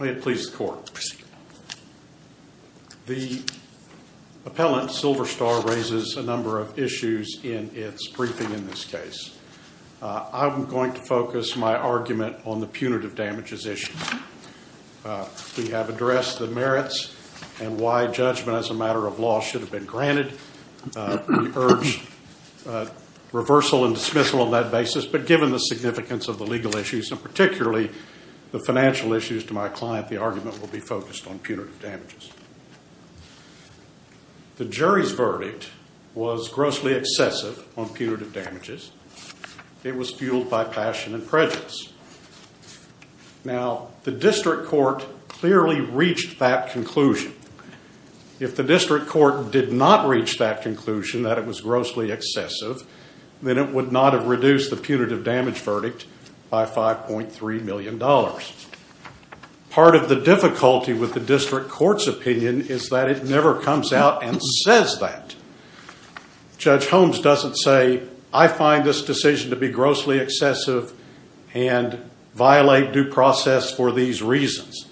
May it please the court, the appellant Silverstar raises a number of issues in its briefing in this case. I'm going to focus my argument on the punitive damages issue. We have addressed the merits and why judgment as a matter of law should have been granted. We urge reversal and dismissal on that basis but given the significance of the legal issues and particularly the financial issues to my client the argument will be focused on punitive damages. The jury's verdict was grossly excessive on punitive damages. It was fueled by passion and prejudice. Now the district court clearly reached that conclusion. If the district court did not reach that conclusion that it was grossly excessive then it would not have reduced the punitive damage verdict by $5.3 million. Part of the difficulty with the district court's opinion is that it never comes out and says that. Judge Holmes doesn't say I find this and violate due process for these reasons.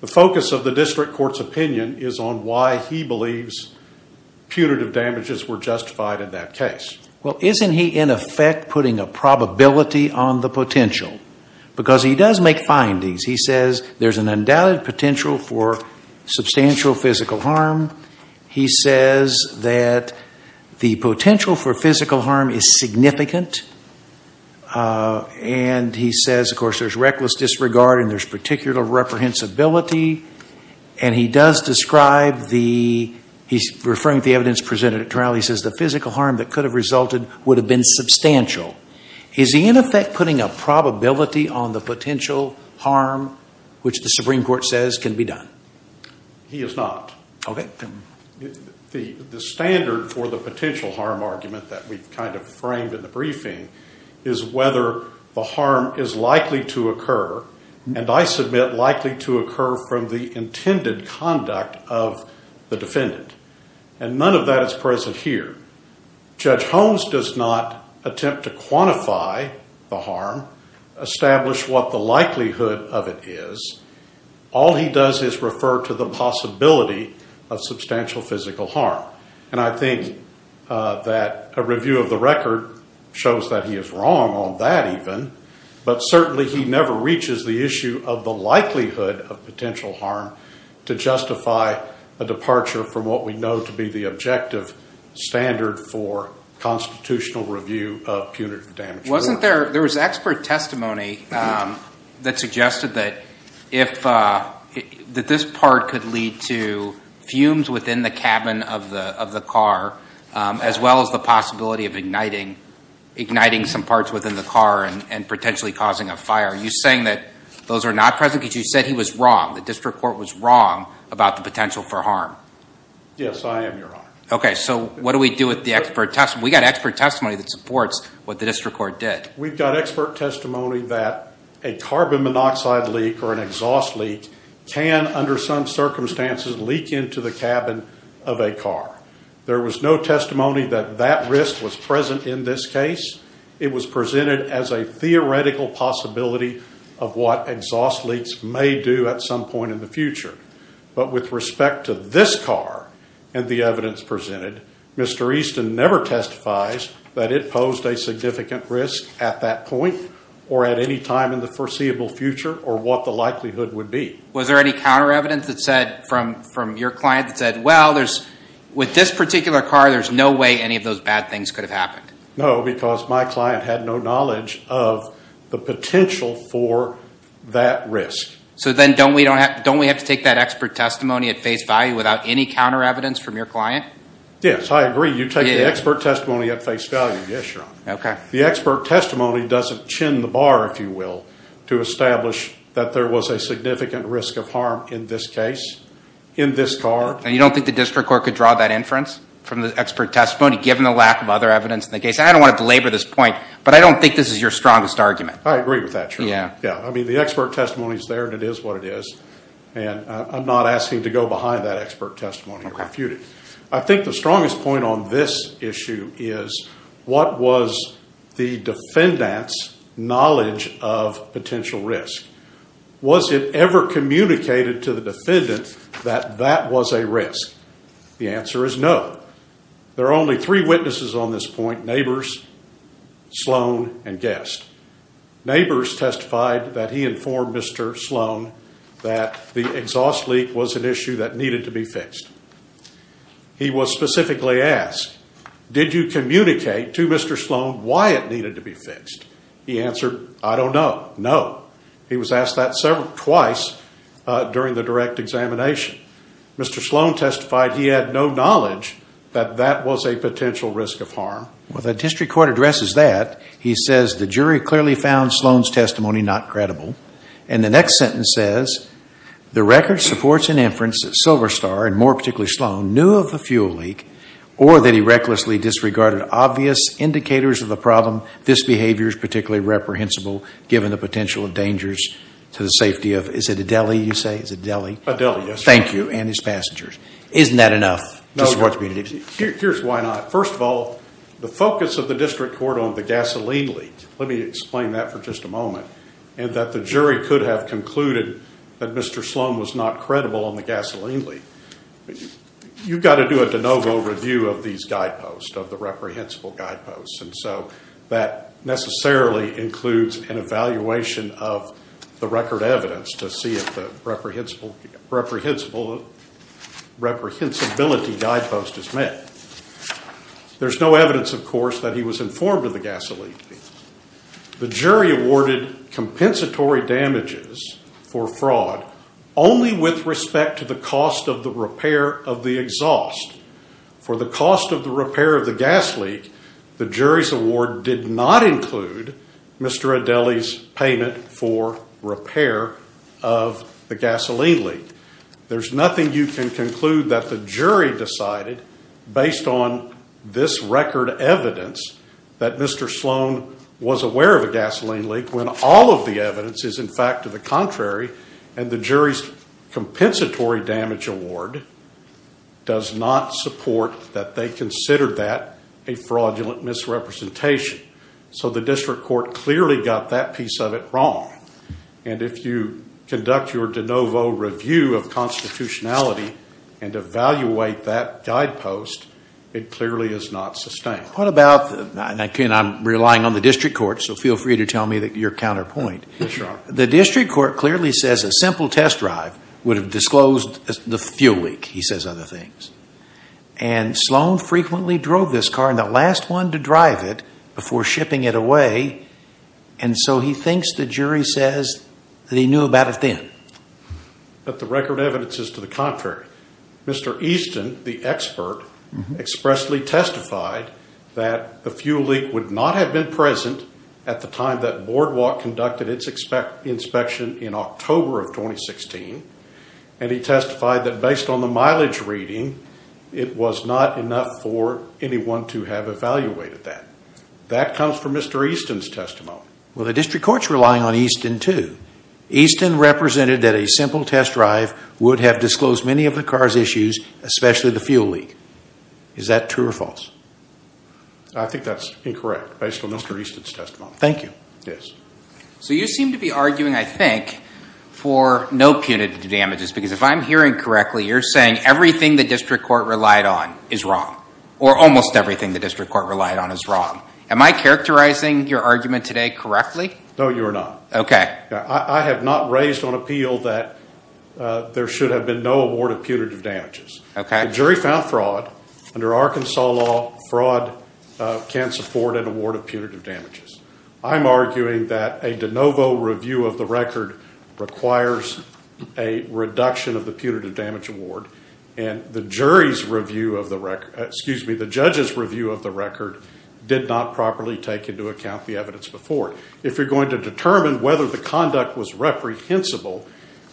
The focus of the district court's opinion is on why he believes punitive damages were justified in that case. Well isn't he in effect putting a probability on the potential because he does make findings. He says there's an undoubted potential for substantial physical harm. He says that the potential for physical disregard and there's particular reprehensibility and he does describe the, he's referring to the evidence presented at trial, he says the physical harm that could have resulted would have been substantial. Is he in effect putting a probability on the potential harm which the Supreme Court says can be done? He is not. The standard for the potential harm argument that we've kind of framed in the briefing is whether the harm is likely to occur and I submit likely to occur from the intended conduct of the defendant and none of that is present here. Judge Holmes does not attempt to quantify the harm, establish what the likelihood of it is. All he does is refer to the possibility of substantial physical harm and I think that a review of the record shows that he is wrong on that even but certainly he never reaches the issue of the likelihood of potential harm to justify a departure from what we know to be the objective standard for constitutional review of punitive damages. Wasn't there, there was expert testimony that suggested that if, that this part could lead to fumes within the cabin of the car as well as the possibility of igniting, igniting some parts within the car and potentially causing a fire. Are you saying that those are not present because you said he was wrong, the district court was wrong about the potential for harm? Yes, I am, your honor. Okay, so what do we do with the expert testimony? We got expert testimony that supports what the district court did. We've got expert testimony that a carbon monoxide leak or an exhaust leak can under some circumstances leak into the cabin of a car. There was no testimony that that risk was present in this case. It was presented as a theoretical possibility of what exhaust leaks may do at some point in the future. But with respect to this car and the evidence presented, Mr. Easton never testifies that it posed a significant risk at that point or at any time in the foreseeable future or what the likelihood would be. Was there any counter evidence that said from, from your client that said, well, there's, with this particular car, there's no way any of those bad things could have happened? No, because my client had no knowledge of the potential for that risk. So then don't we, don't we have to take that expert testimony at face value without any counter evidence from your client? Yes, I agree. You take the expert testimony at face value. Yes, your honor. Okay. The expert testimony doesn't chin the bar, if you will, to establish that there was a significant risk of harm in this case, in this car. And you don't think the district court could draw that inference from the expert testimony given the lack of other evidence in the case? I don't want to belabor this point, but I don't think this is your strongest argument. I agree with that. Yeah. Yeah. I mean, the expert testimony is there and it is what it is. And I'm not asking to go behind that expert testimony and refute it. Okay. I think the strongest point on this issue is what was the defendant's knowledge of potential risk? Was it ever communicated to the defendant that that was a risk? The answer is no. There are only three witnesses on this point, neighbors, Sloan and Guest. Neighbors testified that he informed Mr. Sloan that the exhaust leak was an issue that needed to be fixed. He was specifically asked, did you communicate to Mr. Sloan why it needed to be fixed? He answered, I don't know. No. He was asked that several times during the direct examination. Mr. Sloan testified he had no knowledge that that was a potential risk of harm. Well, the district court addresses that. He says the jury clearly found Sloan's testimony not credible. And the next sentence says, the record supports an inference that Silverstar, and more particularly Sloan, knew of the fuel leak, or that he recklessly disregarded obvious indicators of the problem. This behavior is particularly reprehensible given the potential dangers to the safety of, is it a deli you say? Is it a deli? A deli, yes. Thank you. And his passengers. Isn't that enough? Here's why not. First of all, the focus of the district court on the gasoline leak, let me explain that for just a moment, and that the jury could have concluded that Mr. Sloan was not credible on the gasoline leak. You've got to do a de novo review of these guideposts, of the reprehensible guideposts, and so that necessarily includes an evaluation of the record evidence to see if the reprehensible, reprehensibility guidepost is met. There's no evidence, of course, that he was informed of the gasoline leak. The jury awarded compensatory damages for fraud only with respect to the cost of the repair of the exhaust. For the cost of the repair of the gas leak, the jury's award did not Nothing you can conclude that the jury decided based on this record evidence that Mr. Sloan was aware of a gasoline leak when all of the evidence is, in fact, to the contrary, and the jury's compensatory damage award does not support that they considered that a fraudulent misrepresentation. So the district court clearly got that piece of it wrong. And if you conduct your de novo review of constitutionality and evaluate that guidepost, it clearly is not sustained. What about, and again, I'm relying on the district court, so feel free to tell me your counterpoint. The district court clearly says a simple test drive would have disclosed the fuel leak, he says other things. And Sloan frequently drove this car, and the last one to drive it, before shipping it away, and so he thinks the jury says that he knew about it then. But the record evidence is to the contrary. Mr. Easton, the expert, expressly testified that the fuel leak would not have been present at the time that Boardwalk conducted its inspection in October of 2016, and he testified that based on the mileage reading, it was not enough for anyone to have evaluated that. Well, the district court's relying on Easton, too. Easton represented that a simple test drive would have disclosed many of the car's issues, especially the fuel leak. Is that true or false? I think that's incorrect, based on Mr. Easton's testimony. Thank you. Yes. So you seem to be arguing, I think, for no punitive damages, because if I'm hearing correctly, you're saying everything the district court relied on is wrong, or almost everything the district court relied on is wrong. Am I characterizing your argument today correctly? No, you are not. Okay. I have not raised on appeal that there should have been no award of punitive damages. Okay. The jury found fraud. Under Arkansas law, fraud can't support an award of punitive damages. I'm arguing that a de novo review of the record requires a reduction of the punitive damage award, and the judge's review of the record did not properly take into account the evidence before. If you're going to determine whether the conduct was reprehensible,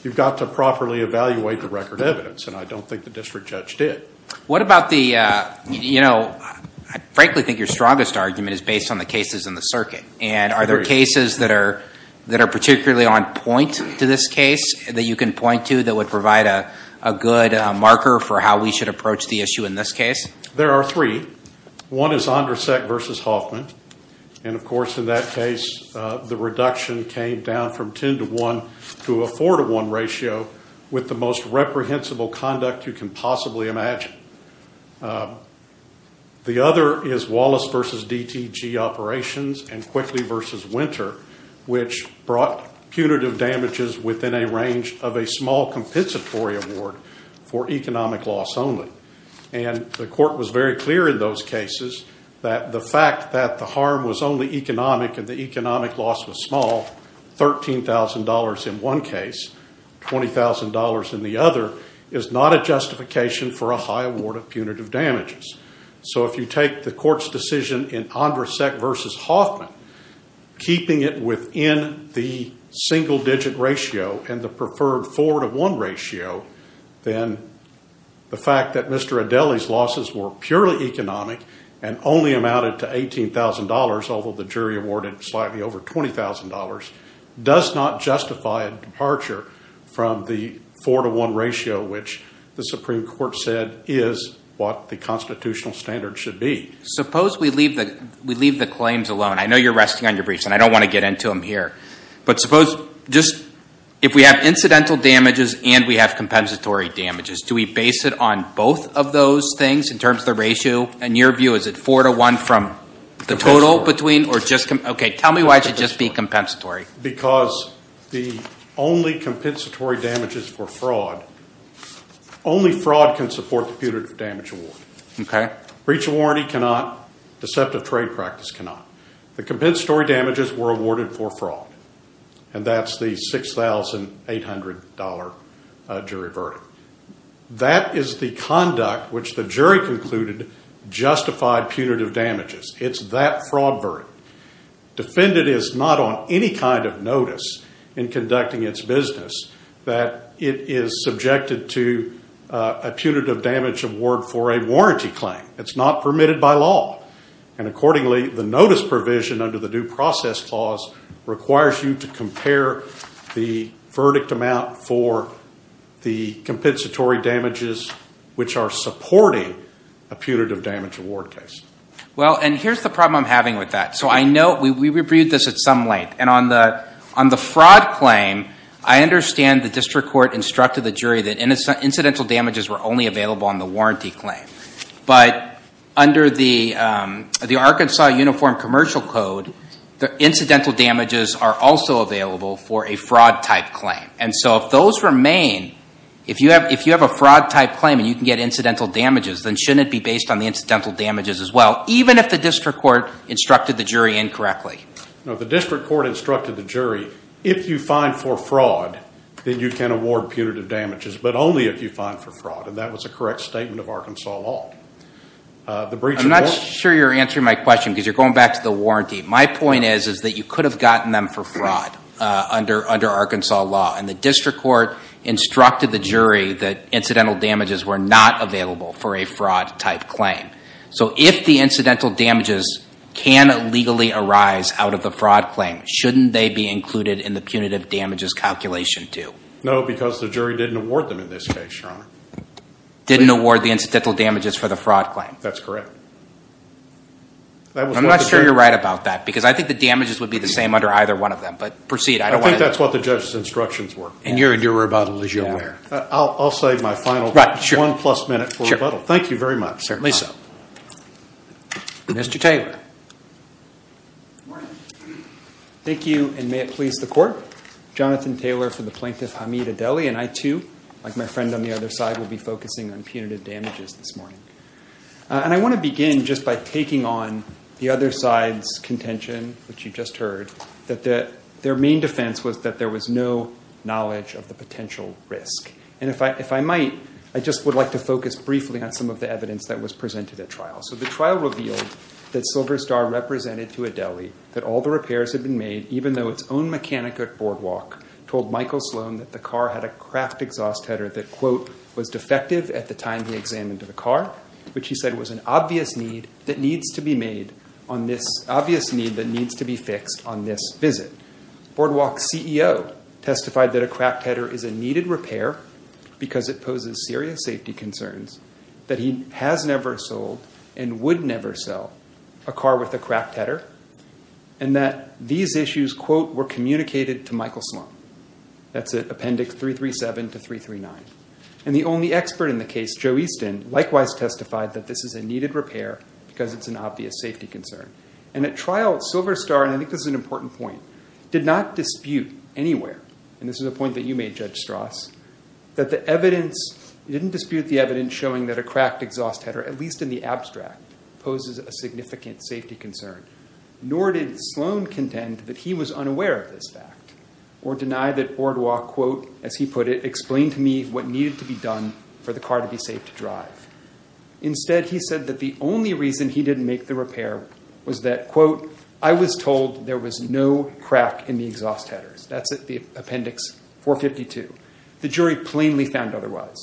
you've got to properly evaluate the record evidence, and I don't think the district judge did. What about the, you know, I frankly think your strongest argument is based on the cases in the circuit, and are there cases that are particularly on point to this case that you can point to that would provide a good marker for how we should approach the issue in this case? There are three. One is Andrasek versus Hoffman, and of course in that case, the reduction came down from ten to one to a four to one ratio with the most reprehensible conduct you can possibly imagine. The other is Wallace versus DTG operations and Quickly versus Winter, which brought punitive damages within a range of a small compensatory award for economic loss only, and the court was very clear in those cases that the fact that the harm was only economic and the economic loss was small, $13,000 in one case, $20,000 in the other, is not a justification for a high award of punitive damages. So if you take the court's decision in Andrasek versus Hoffman, keeping it within the single digit ratio and the preferred four to one ratio, then the fact that Mr. Adeli's losses were purely economic and only amounted to $18,000, although the jury awarded slightly over $20,000, does not justify a departure from the four to one ratio, which the Supreme Court said is what the constitutional standard should be. Suppose we leave the claims alone. I know you're resting on your briefs and I don't want to get into them here, but suppose just if we have incidental damages and we have compensatory damages, do we base it on both of those things in terms of the ratio? In your view, is it four to one from the total between or just... Okay, tell me why it should just be compensatory. Because the only compensatory damages for fraud, only fraud can support the punitive damage award. Okay. Breach of warranty cannot, deceptive trade practice cannot. The compensatory damages were awarded for fraud and that's the $6,800 jury verdict. That is the conduct which the jury concluded justified punitive damages. It's that fraud verdict. Defendant is not on any kind of notice in conducting its business that it is subjected to a punitive damage award for a fraud. It's not permitted by law. And accordingly, the notice provision under the due process clause requires you to compare the verdict amount for the compensatory damages, which are supporting a punitive damage award case. Well, and here's the problem I'm having with that. So I know we reviewed this at some length, and on the fraud claim, I understand the district court instructed the jury that under the Arkansas Uniform Commercial Code, the incidental damages are also available for a fraud type claim. And so if those remain, if you have a fraud type claim and you can get incidental damages, then shouldn't it be based on the incidental damages as well, even if the district court instructed the jury incorrectly? No, the district court instructed the jury, if you find for fraud, then you can award punitive damages, but only if you find for fraud. And that was a correct statement of Arkansas law. I'm not sure you're answering my question because you're going back to the warranty. My point is, is that you could have gotten them for fraud under Arkansas law. And the district court instructed the jury that incidental damages were not available for a fraud type claim. So if the incidental damages can legally arise out of the fraud claim, shouldn't they be included in the punitive damages calculation too? No, because the jury didn't award them in this case, Your Honor. Didn't award the incidental damages for the fraud claim? That's correct. I'm not sure you're right about that because I think the damages would be the same under either one of them, but proceed. I think that's what the judge's instructions were. And you're in your rebuttal as you're aware. I'll save my final one plus minute for rebuttal. Thank you very much. Certainly so. Mr. Taylor. Thank you, and may it please the court. Jonathan Taylor for the plaintiff, Hamid Adeli, and I too, like my friend on the other side, will be focusing on punitive damages this morning. And I want to begin just by taking on the other side's contention, which you just heard, that their main defense was that there was no knowledge of the potential risk. And if I might, I just would like to focus briefly on some of the evidence that was presented at trial. So the trial revealed that Silver Star represented to Adeli that all the repairs had been made, even though its own mechanic at Boardwalk told Michael Sloan that the car had a craft exhaust header that, quote, was defective at the time he examined the car, which he said was an obvious need that needs to be fixed on this visit. Boardwalk's CEO testified that a cracked header is a needed repair because it poses serious safety concerns, that he has never sold and would never sell a car with a cracked header, and that these issues, quote, were communicated to Michael Sloan. That's at Appendix 337 to 339. And the only expert in the case, Joe Easton, likewise testified that this is a needed repair because it's an obvious safety concern. And at trial, Silver Star, and I think this is an important point, did not dispute anywhere, and this is a point that you made, Judge Strauss, that the evidence, he didn't dispute the evidence showing that a cracked exhaust header, at least in the abstract, poses a significant safety concern, nor did Sloan contend that he was unaware of this fact or deny that Boardwalk, as he put it, explained to me what needed to be done for the car to be safe to drive. Instead, he said that the only reason he didn't make the repair was that, quote, I was told there was no crack in the exhaust headers. That's at the Appendix 452. The jury plainly found otherwise.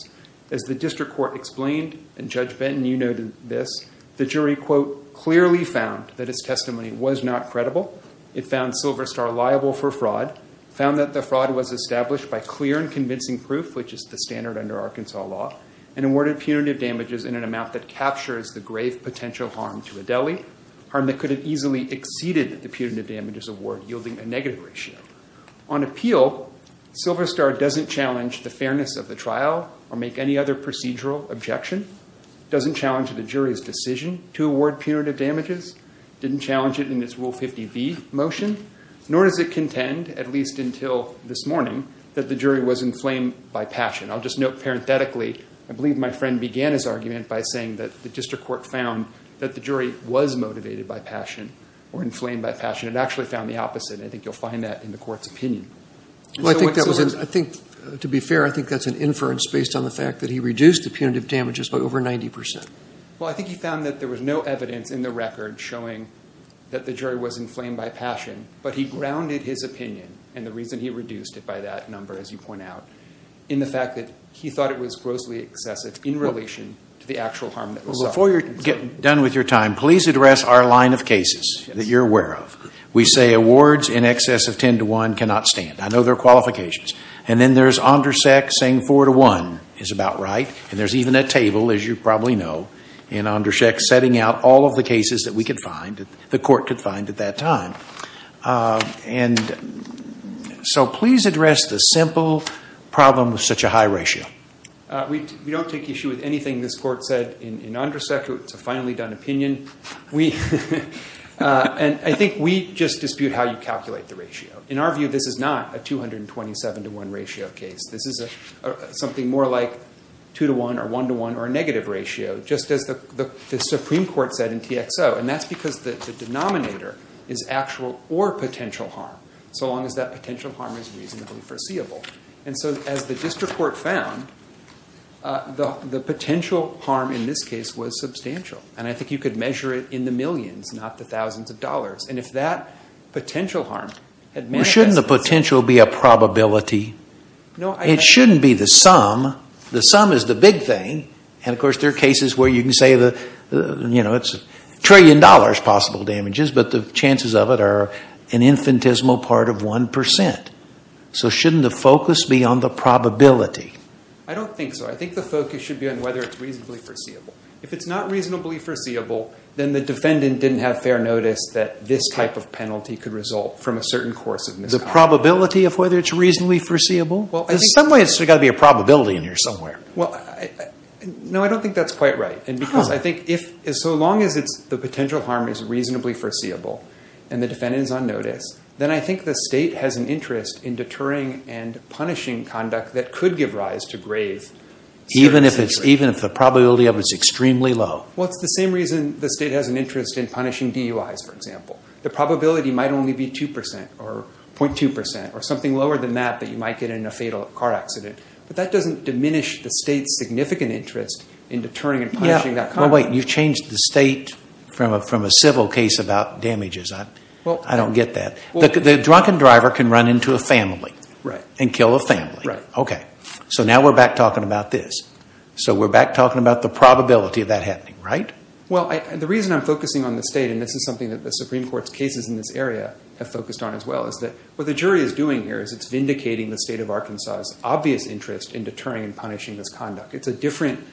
As the district court explained, and Judge Benton, you noted this, the jury, quote, clearly found that his testimony was not credible. It found Silver Star liable for fraud, found that the fraud was established by clear and convincing proof, which is the standard under Arkansas law, and awarded punitive damages in an amount that captures the grave potential harm to Adeli, harm that could have easily exceeded the punitive damages award, yielding a negative ratio. On appeal, Silver Star doesn't challenge the fairness of the trial or make any other procedural objection, doesn't challenge the jury's decision to award punitive damages, didn't challenge it in its Rule 50B motion, nor does it contend, at least until this morning, that the jury was inflamed by passion. I'll just note parenthetically, I believe my friend began his argument by saying that the district court found that the jury was motivated by passion or inflamed by passion. It actually found the opposite. I think you'll find that in the court's opinion. Well, I think to be fair, I think that's an inference based on the fact that he reduced the punitive damages by over 90%. I think he found that there was no evidence in the record showing that the jury was inflamed by passion, but he grounded his opinion, and the reason he reduced it by that number, as you point out, in the fact that he thought it was grossly excessive in relation to the actual harm that was suffered. Before you're done with your time, please address our line of cases that you're aware of. We say awards in excess of 10 to 1 cannot stand. I know there are qualifications. And then there's Ondersek saying 4 to 1 is about right, and there's even a table, as you probably know, in Ondersek setting out all of the cases that we could find, the court could find at that time. And so please address the simple problem of such a high ratio. We don't take issue with anything this court said in Ondersek. It's a finally done opinion. And I think we just dispute how you calculate the ratio. In our view, this is not a 227 to 1 ratio case. This is something more like 2 to 1, or 1 to 1, or a negative ratio, just as the Supreme Court said in TXO. And that's because the denominator is actual or potential harm, so long as that potential harm is reasonably foreseeable. And so as the district court found, the potential harm in this case was substantial. And I think you could measure it in the millions, not the thousands of dollars. And if that potential harm had manifested itself- Well, shouldn't the potential be a probability? It shouldn't be the sum. The sum is the big thing. And of course, there are cases where you can say, you know, it's a trillion dollars possible damages, but the chances of it are an infinitesimal part of 1%. So shouldn't the focus be on the probability? I don't think so. I think the focus should be on whether it's reasonably foreseeable. If it's not reasonably foreseeable, then the defendant didn't have fair notice that this type of penalty could result from a certain course of misconduct. The probability of whether it's reasonably foreseeable? In some ways, there's got to be a probability in here somewhere. Well, no, I don't think that's quite right. And because I think if so long as the potential harm is reasonably foreseeable and the defendant is on notice, then I think the state has an interest in deterring and punishing conduct that could give rise to grave circumstances. Even if the probability of it is extremely low? Well, it's the same reason the state has an interest in punishing DUIs, for example. The probability might only be 2% or 0.2% or something lower than that that you might get in a fatal car accident, but that doesn't diminish the state's significant interest in deterring and punishing that conduct. Well, wait. You've changed the state from a civil case about damages. I don't get that. The drunken driver can run into a family and kill a family. Okay. So now we're back talking about this. So we're back talking about the probability of that happening, right? Well, the reason I'm focusing on the state, and this is something that the Supreme Court's cases in this area have focused on as well, is that what the jury is doing here is it's vindicating the state of Arkansas's obvious interest in deterring and punishing this conduct. It's a different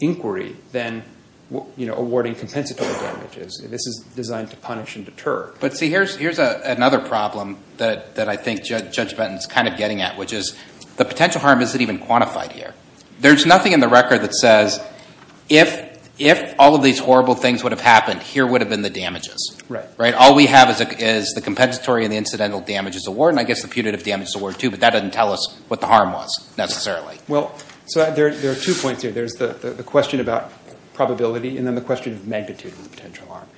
inquiry than awarding compensatory damages. This is designed to punish and deter. But see, here's another problem that I think Judge Benton's kind of getting at, which is the potential harm isn't even quantified here. There's nothing in the record that says, if all of these horrible things would have happened, here would have been the damages, right? All we have is the compensatory and the incidental damages award, and I guess the putative damages award too, but that doesn't tell us what the harm was necessarily. Well, so there are two points here. There's the question about probability and then the question of magnitude of the potential harm.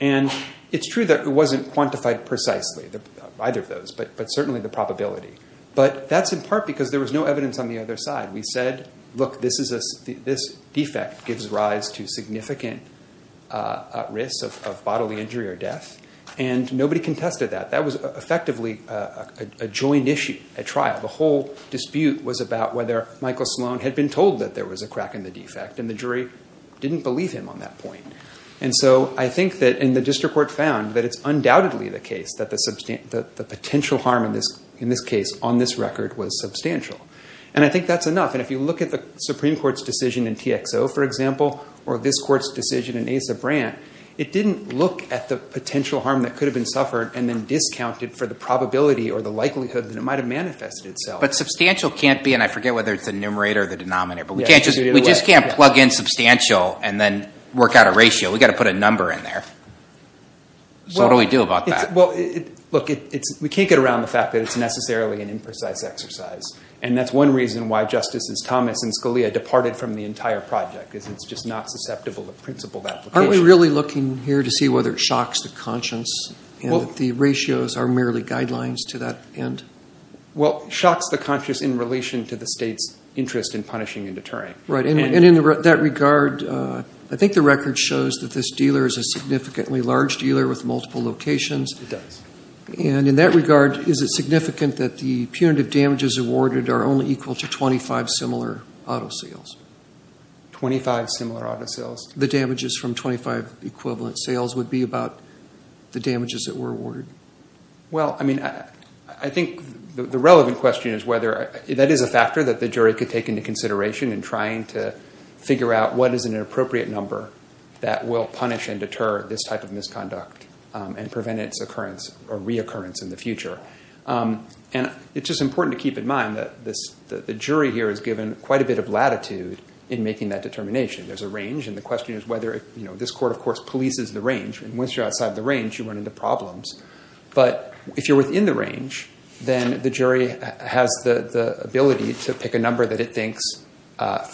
And it's true that it wasn't quantified precisely, either of those, but certainly the probability. But that's in part because there was no evidence on the other side. We said, look, this defect gives rise to significant risk of bodily injury or death, and nobody contested that. That was effectively a joint issue, a trial. The whole dispute was about whether Michael Sloan had been told that there was a crack in the defect, and the jury didn't believe him on that point. And so I think that the district court found that it's undoubtedly the case that the potential harm in this case on this record was substantial. And I think that's enough. And if you look at the Supreme Court's decision in TXO, for example, or this court's decision in Asa Brandt, it didn't look at the potential harm that could have been suffered and then discounted for the probability or the likelihood that it might have manifested itself. But substantial can't be, and I forget whether it's the numerator or the denominator, but we just can't plug in substantial and then work out a ratio. We've got to put a number in there. So what do we do about that? Well, look, we can't get around the fact that it's necessarily an imprecise exercise. And that's one reason why Justices Thomas and Scalia departed from the entire project, is it's just not susceptible to principled application. Aren't we really looking here to see whether it shocks the conscience and that the ratios are merely guidelines to that end? Well, it shocks the conscience in relation to the state's interest in punishing and deterring. Right. And in that regard, I think the record shows that this dealer is a significantly large dealer with multiple locations. It does. And in that regard, is it significant that the punitive damages awarded are only equal to 25 similar auto sales? 25 similar auto sales. The damages from 25 equivalent sales would be about the damages that were awarded? Well, I mean, I think the relevant question is whether that is a factor that the jury could take into consideration in trying to figure out what is an appropriate number that will punish and deter this type of misconduct and prevent its occurrence or reoccurrence in the future. And it's just important to keep in mind that the jury here is given quite a bit of latitude in making that determination. There's a range. And the question is whether, you know, this court, of course, polices the range. And once you're outside the range, you run into problems. But if you're within the range, then the jury has the ability to pick a number that it thinks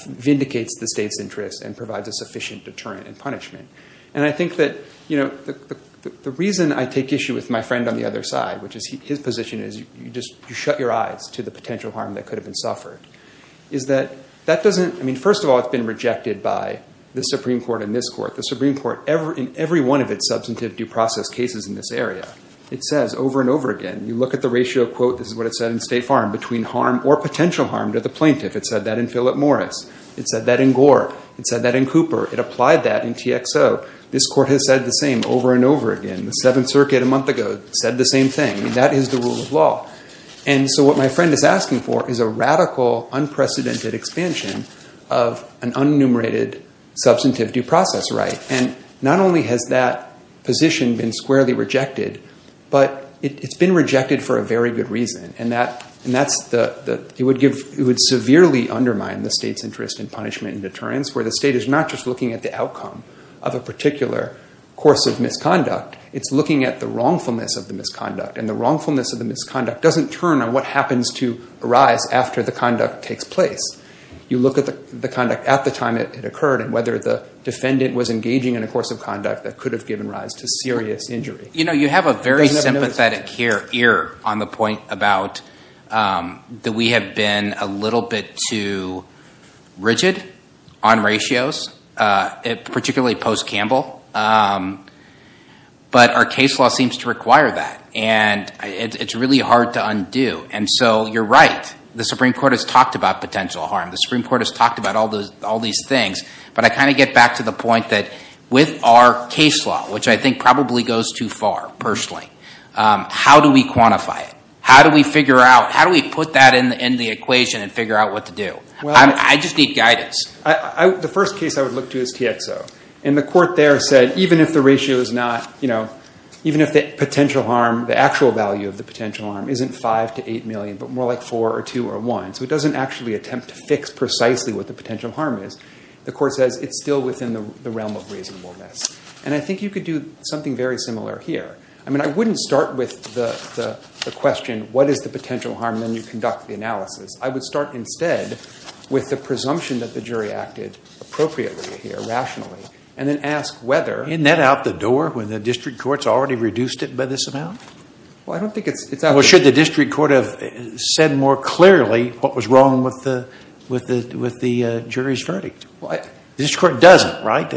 vindicates the state's interests and provides a sufficient deterrent and punishment. And I think that, you know, the reason I take issue with my friend on the other side, which is his position is you just shut your eyes to the potential harm that could have been suffered, is that that doesn't, I mean, first of all, it's been rejected by the Supreme Court and this court. The Supreme Court, in every one of its substantive due process cases in this area, it says over and over again, you look at the ratio, quote, this is what it said in State Farm, between harm or potential harm to the plaintiff. It said that in Philip Morris. It said that in Gore. It said that in Cooper. It applied that in TXO. This court has said the same over and over again. The Seventh Circuit, a month ago, said the same thing. I mean, that is the rule of law. And so what my friend is asking for is a radical, unprecedented expansion of an unenumerated substantive due process right. And not only has that position been squarely rejected, but it's been rejected for a very good reason. And that's the, it would severely undermine the state's interest in punishment and deterrence, where the state is not just looking at the outcome of a particular course of misconduct, it's looking at the wrongfulness of the misconduct. And the wrongfulness of the misconduct doesn't turn on what happens to arise after the conduct takes place. You look at the conduct at the time it occurred and whether the defendant was engaging in a course of conduct that could have given rise to serious injury. You have a very sympathetic ear on the point about that we have been a little bit too rigid on ratios, particularly post-Campbell. But our case law seems to require that. And it's really hard to undo. And so you're right. The Supreme Court has talked about potential harm. The Supreme Court has talked about all these things. But I kind of get back to the point that with our case law, which I think probably goes far, personally, how do we quantify it? How do we figure out, how do we put that in the equation and figure out what to do? I just need guidance. The first case I would look to is TXO. And the court there said, even if the ratio is not, you know, even if the potential harm, the actual value of the potential harm isn't 5 to 8 million, but more like 4 or 2 or 1. So it doesn't actually attempt to fix precisely what the potential harm is. The court says it's still within the realm of reasonableness. And I think you could do something very similar here. I mean, I wouldn't start with the question, what is the potential harm? Then you conduct the analysis. I would start instead with the presumption that the jury acted appropriately here, rationally, and then ask whether. Isn't that out the door when the district courts already reduced it by this amount? Well, I don't think it's out the door. Well, should the district court have said more clearly what was wrong with the jury's verdict? The district court doesn't, right?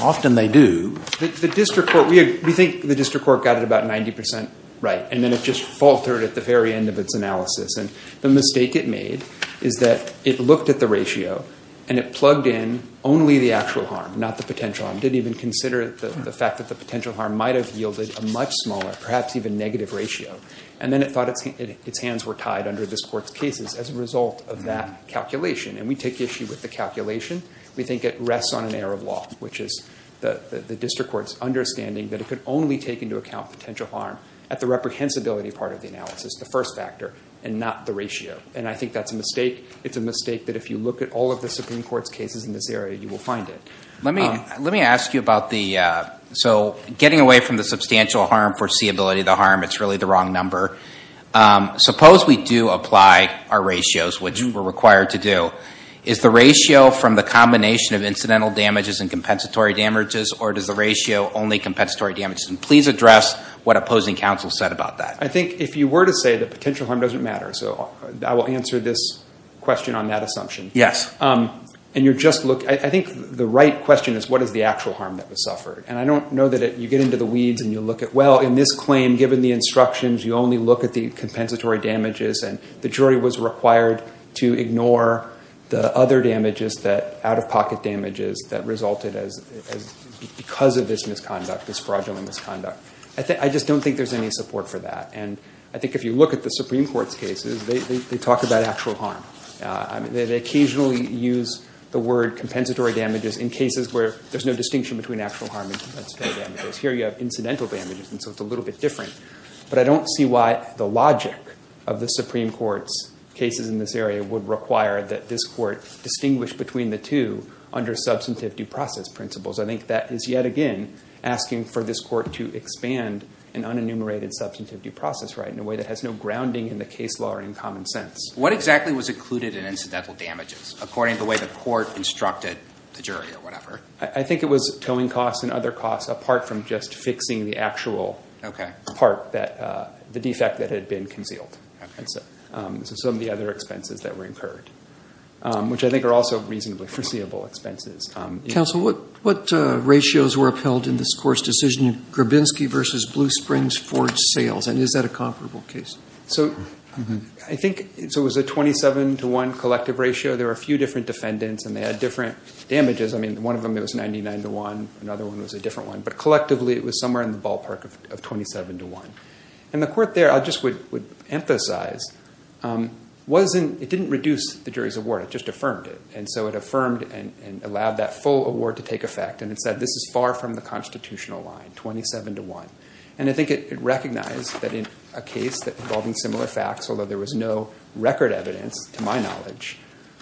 Often they do. We think the district court got it about 90% right. And then it just faltered at the very end of its analysis. And the mistake it made is that it looked at the ratio and it plugged in only the actual harm, not the potential harm. Didn't even consider the fact that the potential harm might have yielded a much smaller, perhaps even negative ratio. And then it thought its hands were tied under this court's cases as a result of that calculation. And we take issue with the calculation. We think it rests on an error of law. The district court's understanding that it could only take into account potential harm at the reprehensibility part of the analysis, the first factor, and not the ratio. And I think that's a mistake. It's a mistake that if you look at all of the Supreme Court's cases in this area, you will find it. Let me ask you about the... So getting away from the substantial harm, foreseeability of the harm, it's really the wrong number. Suppose we do apply our ratios, which we're required to do. Is the ratio from the combination of incidental damages and compensatory damages, or does the ratio only compensatory damages? And please address what opposing counsel said about that. I think if you were to say that potential harm doesn't matter, so I will answer this question on that assumption. Yes. And you're just looking... I think the right question is, what is the actual harm that was suffered? And I don't know that you get into the weeds and you look at, well, in this claim, given the instructions, you only look at the compensatory damages and the jury was required to ignore the other damages, the out-of-pocket damages that resulted because of this misconduct, this fraudulent misconduct. I just don't think there's any support for that. And I think if you look at the Supreme Court's cases, they talk about actual harm. They occasionally use the word compensatory damages in cases where there's no distinction between actual harm and compensatory damages. Here you have incidental damages, and so it's a little bit different. But I don't see why the logic of the Supreme Court's cases in this area would require that this court distinguish between the two under substantive due process principles. I think that is yet again asking for this court to expand an unenumerated substantive due process right in a way that has no grounding in the case law or in common sense. What exactly was included in incidental damages according to the way the court instructed the jury or whatever? I think it was towing costs and other costs apart from just fixing the actual... Okay. ...part, the defect that had been concealed. Okay. And so some of the other expenses that were incurred, which I think are also reasonably foreseeable expenses. Counsel, what ratios were upheld in this court's decision? Grabinski versus Blue Springs Forge Sales, and is that a comparable case? So I think it was a 27 to 1 collective ratio. There were a few different defendants, and they had different damages. I mean, one of them, it was 99 to 1. Another one was a different one. But collectively, it was somewhere in the ballpark of 27 to 1. And the court there, I just would emphasize, it didn't reduce the jury's award. It just affirmed it. And so it affirmed and allowed that full award to take effect. And it said, this is far from the constitutional line, 27 to 1. And I think it recognized that in a case involving similar facts, although there was no record evidence, to my knowledge,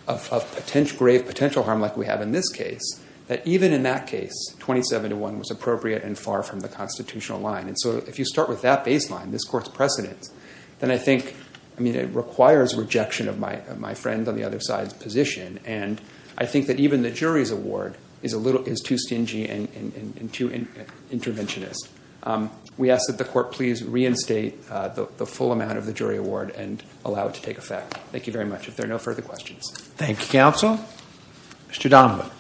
of grave potential harm like we have in this case, that even in that case, 27 to 1 was appropriate and far from the constitutional line. And so if you start with that baseline, this court's precedence, then I think, I mean, it requires rejection of my friend on the other side's position. And I think that even the jury's award is too stingy and too interventionist. We ask that the court please reinstate the full amount of the jury award and allow it to take effect. Thank you very much. If there are no further questions. Thank you, counsel. Mr. Donovan.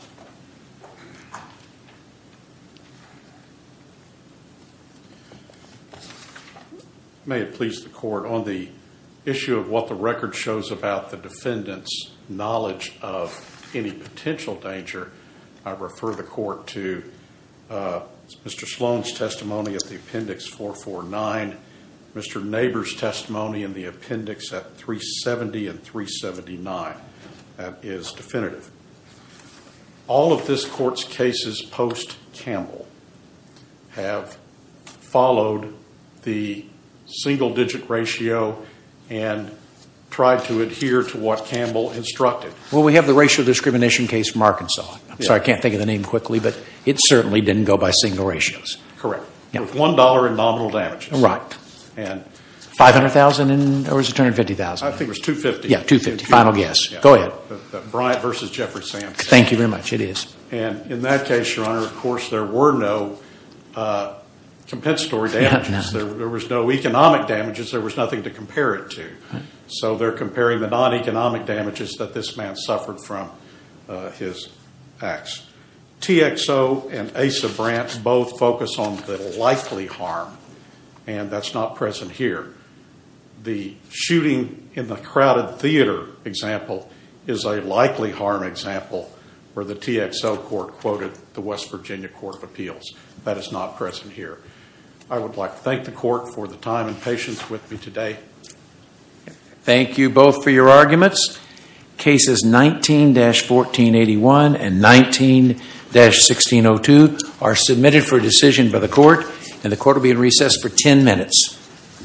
May it please the court. On the issue of what the record shows about the defendant's knowledge of any potential danger, I refer the court to Mr. Sloan's testimony at the appendix 449, Mr. Naber's testimony in the appendix at 370 and 379. That is definitive. All of this court's cases post-Campbell have followed the single-digit ratio and tried to adhere to what Campbell instructed. Well, we have the racial discrimination case from Arkansas. I'm sorry, I can't think of the name quickly, but it certainly didn't go by single ratios. Correct. With $1 in nominal damages. Right. $500,000 or was it $250,000? I think it was $250,000. Yeah, $250,000. Final guess. Bryant versus Jeffrey Sands. Thank you very much. It is. And in that case, your honor, of course, there were no compensatory damages. There was no economic damages. There was nothing to compare it to. So they're comparing the non-economic damages that this man suffered from his acts. TXO and Asa Brant both focus on the likely harm and that's not present here. The shooting in the crowded theater example is a likely harm example where the TXO court quoted the West Virginia Court of Appeals. That is not present here. I would like to thank the court for the time and patience with me today. Thank you both for your arguments. Cases 19-1481 and 19-1602 are submitted for decision by the court and the court will be in recess for 10 minutes.